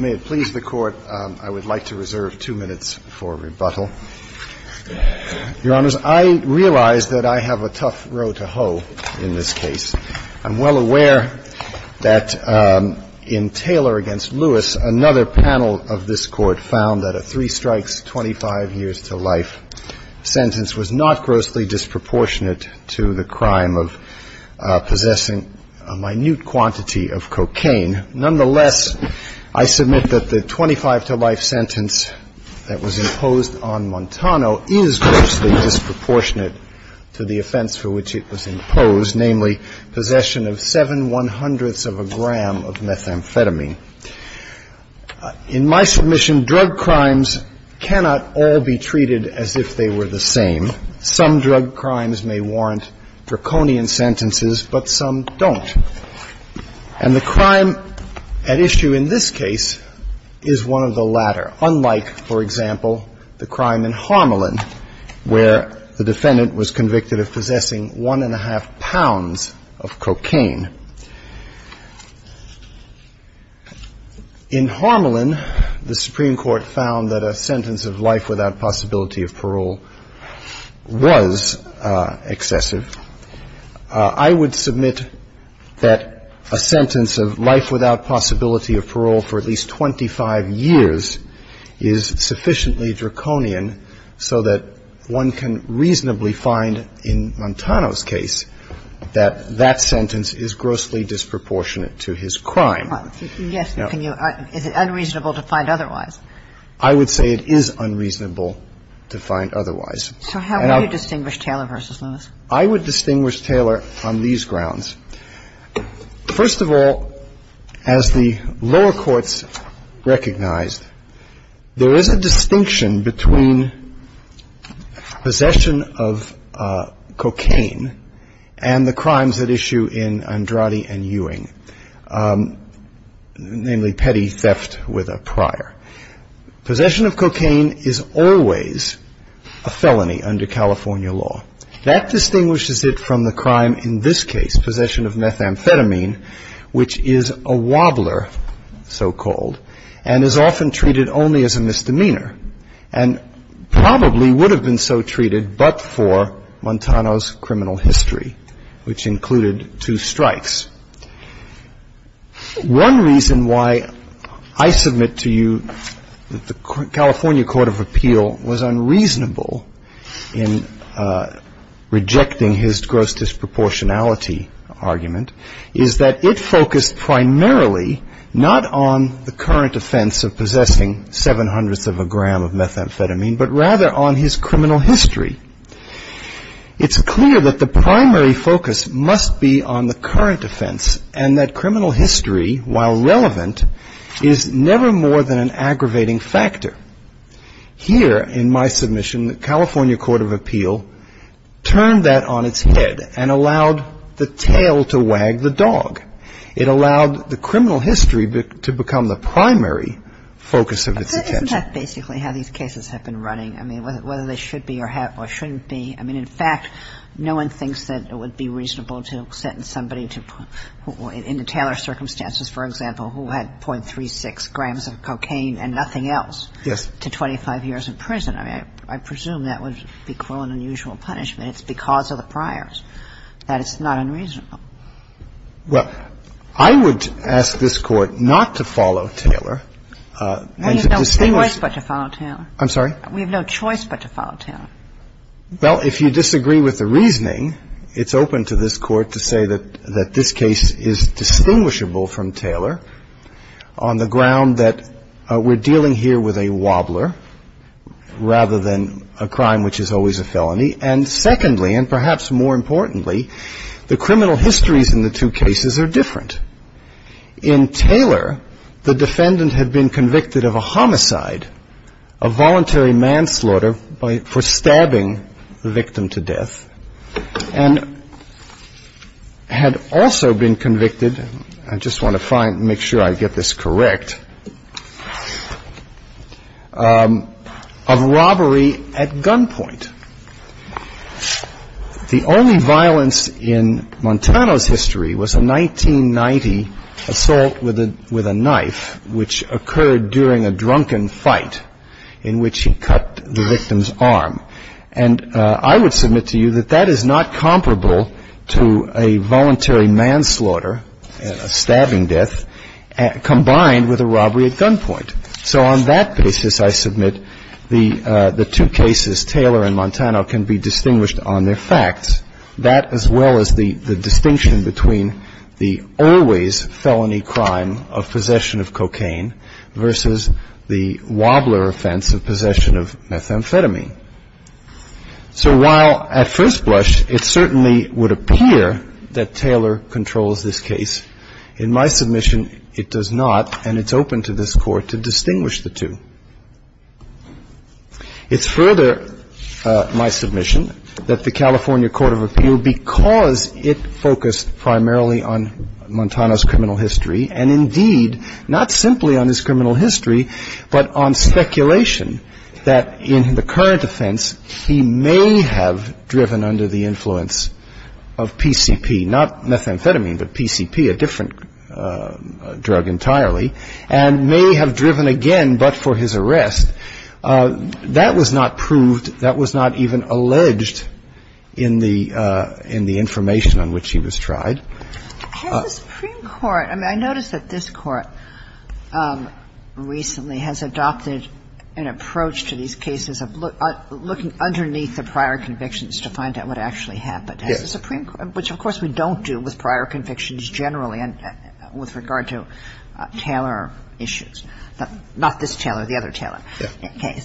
May it please the Court, I would like to reserve two minutes for rebuttal. Your Honors, I realize that I have a tough row to hoe in this case. I'm well aware that in Taylor v. Lewis, another panel of this Court found that a three-strikes-25-years-to-life sentence was not grossly disproportionate to the crime of possessing a minute quantity of cocaine. Nonetheless, I submit that the 25-to-life sentence that was imposed on Montano is grossly disproportionate to the offense for which it was imposed, namely possession of 7 one-hundredths of a gram of methamphetamine. In my submission, drug crimes cannot all be treated as if they were the same. Some drug crimes may warrant draconian sentences, but some don't. And the crime at issue in this case is one of the latter, unlike, for example, the crime in Harmelin, where the defendant was convicted of possessing one-and-a-half pounds of cocaine. In Harmelin, the Supreme Court found that a sentence of life without possibility of parole was excessive. I would submit that a sentence of life without possibility of parole for at least 25 years is sufficiently draconian so that one can reasonably find in Montano's case that that sentence is grossly disproportionate to his crime. Yes. Is it unreasonable to find otherwise? I would say it is unreasonable to find otherwise. So how would you distinguish Taylor v. Lewis? I would distinguish Taylor on these grounds. First of all, as the lower courts recognized, there is a distinction between possession of cocaine and the crimes at issue in Andrade and Ewing, namely petty theft with a prior. Possession of cocaine is always a felony under California law. That distinguishes it from the crime in this case, possession of methamphetamine, which is a wobbler, so-called, and is often treated only as a misdemeanor and probably would have been so treated but for Montano's criminal history, which included two strikes. One reason why I submit to you that the California Court of Appeal was unreasonable in rejecting his gross disproportionality argument is that it focused primarily not on the current offense of possessing seven hundredths of a gram of methamphetamine, but rather on his criminal history. It's clear that the primary focus must be on the current offense and that criminal history, while relevant, is never more than an aggravating factor. Here in my submission, the California Court of Appeal turned that on its head and allowed the tail to wag the dog. It allowed the criminal history to become the primary focus of its attention. Isn't that basically how these cases have been running? I mean, whether they should be or shouldn't be. I mean, in fact, no one thinks that it would be reasonable to sentence somebody in the Taylor circumstances, for example, who had .36 grams of cocaine and nothing else to 25 years in prison. I mean, I presume that would be, quote, an unusual punishment. It's because of the priors that it's not unreasonable. Well, I would ask this Court not to follow Taylor and to distinguish. We have no choice but to follow Taylor. I'm sorry? We have no choice but to follow Taylor. Well, if you disagree with the reasoning, it's open to this Court to say that this case is distinguishable from Taylor on the ground that we're dealing here with a wobbler rather than a crime which is always a felony. And secondly, and perhaps more importantly, the criminal histories in the two cases are different. In Taylor, the defendant had been convicted of a homicide, a voluntary manslaughter for stabbing the victim to death, and had also been convicted, I just want to make sure I get this correct, of robbery at gunpoint. The only violence in Montano's history was a 1990 assault with a knife which occurred during a drunken fight in which he cut the victim's arm. And I would submit to you that that is not comparable to a voluntary manslaughter, a stabbing death, combined with a robbery at gunpoint. So on that basis, I submit the two cases, Taylor and Montano, can be distinguished on their facts, that as well as the distinction between the always felony crime of possession of cocaine versus the wobbler offense of possession of methamphetamine. So while at first blush it certainly would appear that Taylor controls this case, in my submission it does not, and it's open to this Court to distinguish the two. It's further my submission that the California Court of Appeal, because it focused primarily on Montano's criminal history, and indeed not simply on his criminal history, but on speculation that in the current offense he may have driven under the influence of PCP, not methamphetamine, but PCP, a different drug entirely, and may have driven again but for his arrest. That was not proved. That was not even alleged in the information on which he was tried. Has the Supreme Court – I mean, I notice that this Court recently has adopted an approach to these cases of looking underneath the prior convictions to find out what actually happened. Yes. Which, of course, we don't do with prior convictions generally and with regard to Taylor issues. Not this Taylor, the other Taylor. Okay.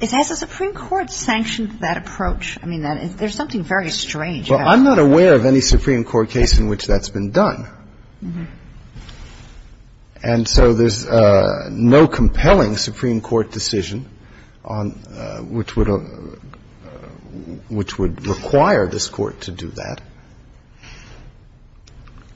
Has the Supreme Court sanctioned that approach? I mean, there's something very strange about it. Well, I'm not aware of any Supreme Court case in which that's been done. And so there's no compelling Supreme Court decision on – which would – which would require this Court to do that.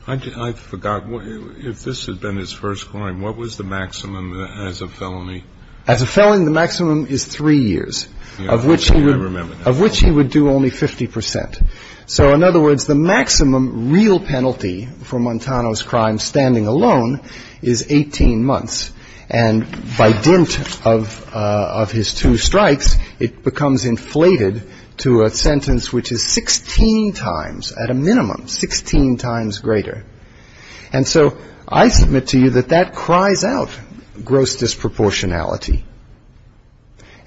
I forgot. If this had been his first claim, what was the maximum as a felony? As a felony, the maximum is three years, of which he would do only 50 percent. So, in other words, the maximum real penalty for Montano's crime standing alone is 18 months. And by dint of his two strikes, it becomes inflated to a sentence which is 16 times, at a minimum, 16 times greater. And so I submit to you that that cries out gross disproportionality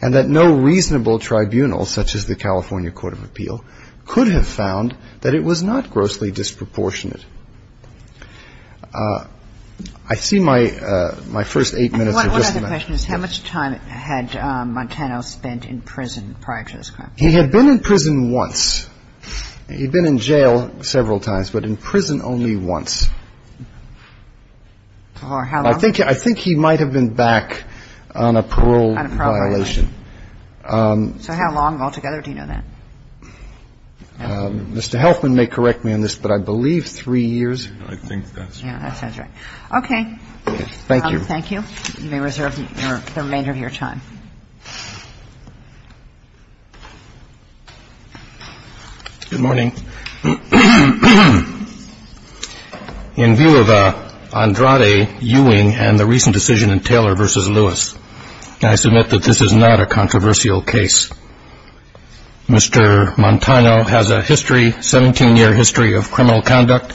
and that no reasonable tribunal, such as the California Court of Appeal, could have found that it was not grossly disproportionate. I see my first eight minutes are just about up. And one other question is how much time had Montano spent in prison prior to this crime? He had been in prison once. He'd been in jail several times, but in prison only once. For how long? On a parole violation. So how long altogether? Do you know that? Mr. Healthman may correct me on this, but I believe three years. I think that's right. Yeah, that sounds right. Okay. Thank you. Thank you. You may reserve the remainder of your time. Good morning. In view of Andrade, Ewing, and the recent decision in Taylor v. Lewis, I submit that this is not a controversial case. Mr. Montano has a history, 17-year history, of criminal conduct.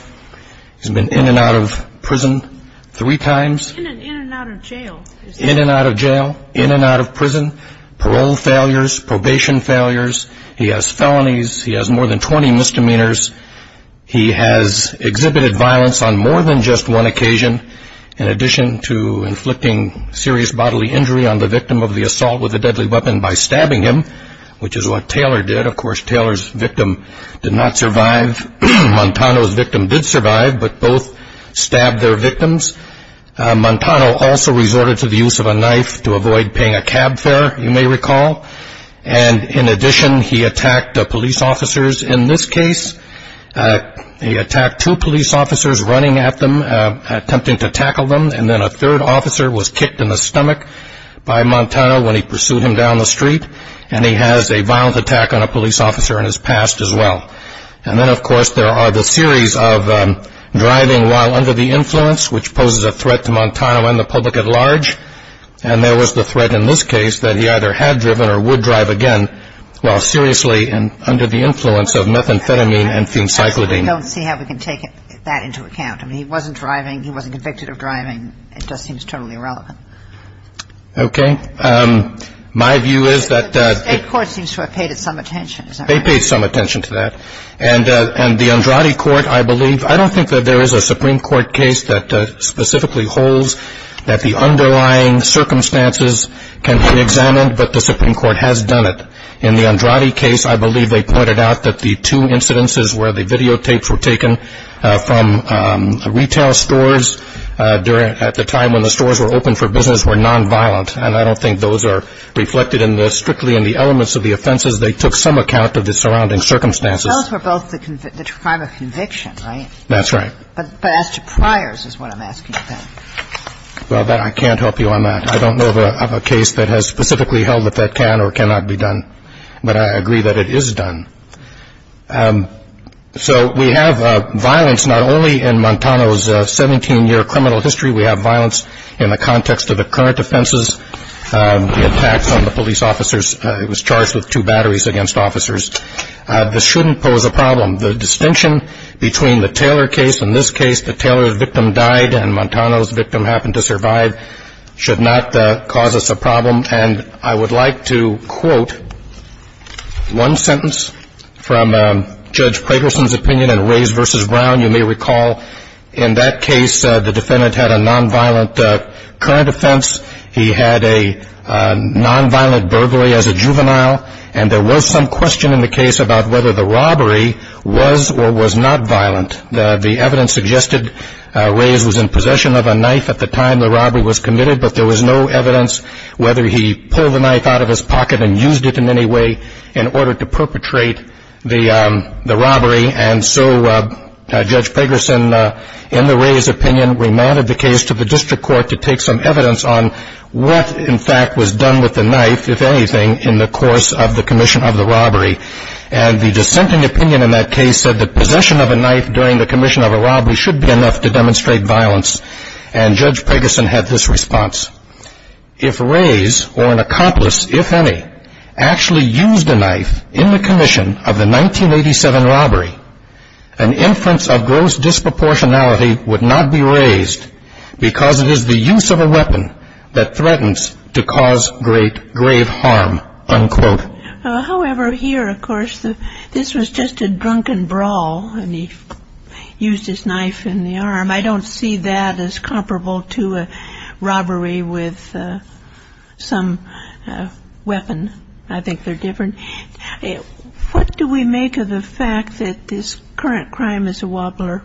He's been in and out of prison three times. In and out of jail. In and out of jail, in and out of prison, parole failures, probation failures. He has felonies. He has more than 20 misdemeanors. He has exhibited violence on more than just one occasion, in addition to inflicting serious bodily injury on the victim of the assault with a deadly weapon by stabbing him, which is what Taylor did. Of course, Taylor's victim did not survive. Montano's victim did survive, but both stabbed their victims. Montano also resorted to the use of a knife to avoid paying a cab fare, you may recall. And in addition, he attacked police officers. In this case, he attacked two police officers running at them, attempting to tackle them, and then a third officer was kicked in the stomach by Montano when he pursued him down the street, and he has a violent attack on a police officer in his past as well. And then, of course, there are the series of driving while under the influence, which poses a threat to Montano and the public at large, and there was the threat in this case that he either had driven or would drive again while seriously under the influence of methamphetamine and phencyclidine. I don't see how we can take that into account. I mean, he wasn't driving. He wasn't convicted of driving. It just seems totally irrelevant. Okay. My view is that the State Court seems to have paid it some attention. They paid some attention to that, and the Andrade Court, I believe, I don't think that there is a Supreme Court case that specifically holds that the underlying circumstances can be examined, but the Supreme Court has done it. In the Andrade case, I believe they pointed out that the two incidences where the videotapes were taken from retail stores at the time when the stores were open for business were nonviolent, and I don't think those are reflected strictly in the elements of the offenses. They took some account of the surrounding circumstances. Those were both the crime of conviction, right? That's right. But as to priors is what I'm asking then. Well, I can't help you on that. I don't know of a case that has specifically held that that can or cannot be done, but I agree that it is done. So we have violence not only in Montano's 17-year criminal history. We have violence in the context of the current offenses, the attacks on the police officers. He was charged with two batteries against officers. This shouldn't pose a problem. The distinction between the Taylor case and this case, the Taylor victim died and Montano's victim happened to survive, should not cause us a problem. And I would like to quote one sentence from Judge Pragerson's opinion in Rays v. Brown. You may recall in that case the defendant had a nonviolent current offense. He had a nonviolent burglary as a juvenile, and there was some question in the case about whether the robbery was or was not violent. The evidence suggested Rays was in possession of a knife at the time the robbery was committed, but there was no evidence whether he pulled the knife out of his pocket and used it in any way in order to perpetrate the robbery. And so Judge Pragerson, in the Rays' opinion, remanded the case to the district court to take some evidence on what, in fact, was done with the knife, if anything, in the course of the commission of the robbery. And the dissenting opinion in that case said that possession of a knife during the commission of a robbery should be enough to demonstrate violence, and Judge Pragerson had this response. If Rays or an accomplice, if any, actually used a knife in the commission of the 1987 robbery, an inference of gross disproportionality would not be raised because it is the use of a weapon that threatens to cause great grave harm, unquote. However, here, of course, this was just a drunken brawl, and he used his knife in the arm. I don't see that as comparable to a robbery with some weapon. I think they're different. What do we make of the fact that this current crime is a wobbler?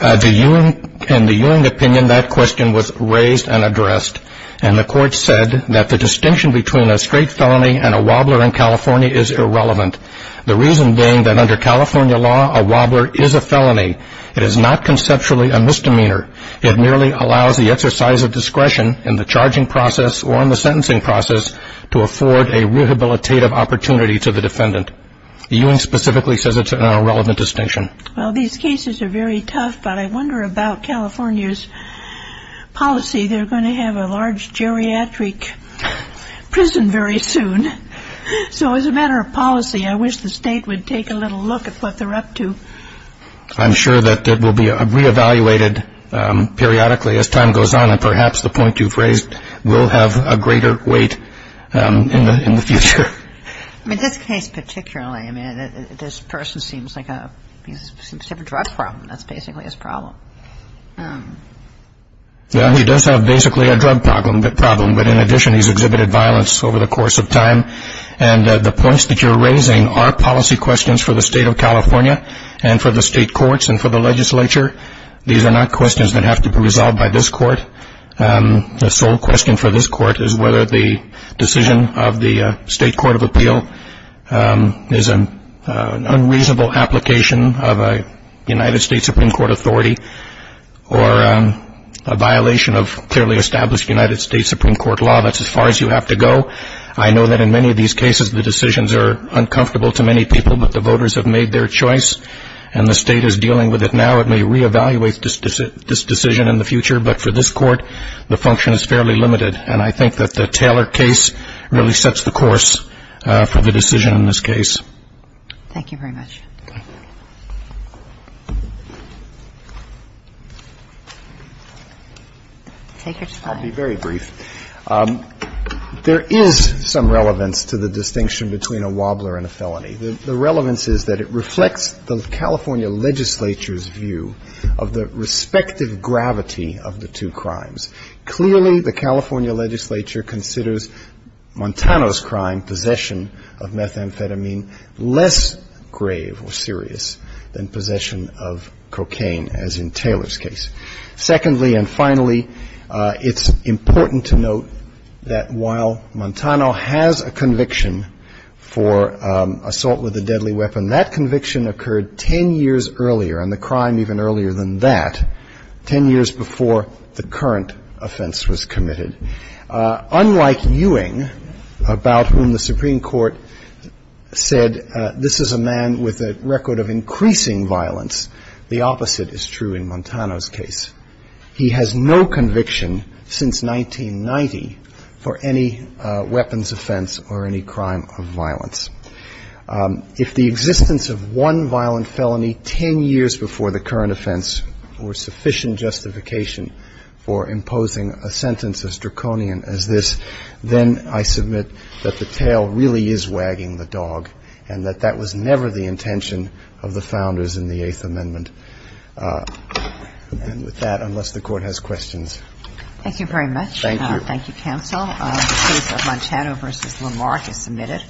In the Ewing opinion, that question was raised and addressed, and the court said that the distinction between a straight felony and a wobbler in California is irrelevant, the reason being that under California law, a wobbler is a felony. It is not conceptually a misdemeanor. It merely allows the exercise of discretion in the charging process or in the sentencing process to afford a rehabilitative opportunity to the defendant. Ewing specifically says it's an irrelevant distinction. Well, these cases are very tough, but I wonder about California's policy. They're going to have a large geriatric prison very soon. So as a matter of policy, I wish the state would take a little look at what they're up to. I'm sure that it will be reevaluated periodically as time goes on, and perhaps the point you've raised will have a greater weight in the future. In this case particularly, this person seems to have a drug problem. That's basically his problem. Yeah, he does have basically a drug problem, but in addition he's exhibited violence over the course of time. And the points that you're raising are policy questions for the state of California and for the state courts and for the legislature. These are not questions that have to be resolved by this court. The sole question for this court is whether the decision of the State Court of Appeal is an unreasonable application of a United States Supreme Court authority or a violation of clearly established United States Supreme Court law. That's as far as you have to go. I know that in many of these cases the decisions are uncomfortable to many people, but the voters have made their choice, and the state is dealing with it now. It may reevaluate this decision in the future, but for this court the function is fairly limited. And I think that the Taylor case really sets the course for the decision in this case. Thank you very much. Take your time. I'll be very brief. There is some relevance to the distinction between a wobbler and a felony. The relevance is that it reflects the California legislature's view of the respective gravity of the two crimes. Clearly, the California legislature considers Montano's crime, possession of methamphetamine, less grave or serious than possession of cocaine, as in Taylor's case. Secondly and finally, it's important to note that while Montano has a conviction for assault with a deadly weapon, that conviction occurred 10 years earlier, and the crime even earlier than that, 10 years before the current offense was committed. Unlike Ewing, about whom the Supreme Court said this is a man with a record of increasing violence, the opposite is true in Montano's case. He has no conviction since 1990 for any weapons offense or any crime of violence. If the existence of one violent felony 10 years before the current offense were sufficient justification for imposing a sentence as draconian as this, then I submit that the tale really is wagging the dog and that that was never the intention of the founders in the Eighth Amendment. And with that, unless the Court has questions. Thank you very much. Thank you. Thank you, counsel. The case of Montano v. Lamarck is submitted.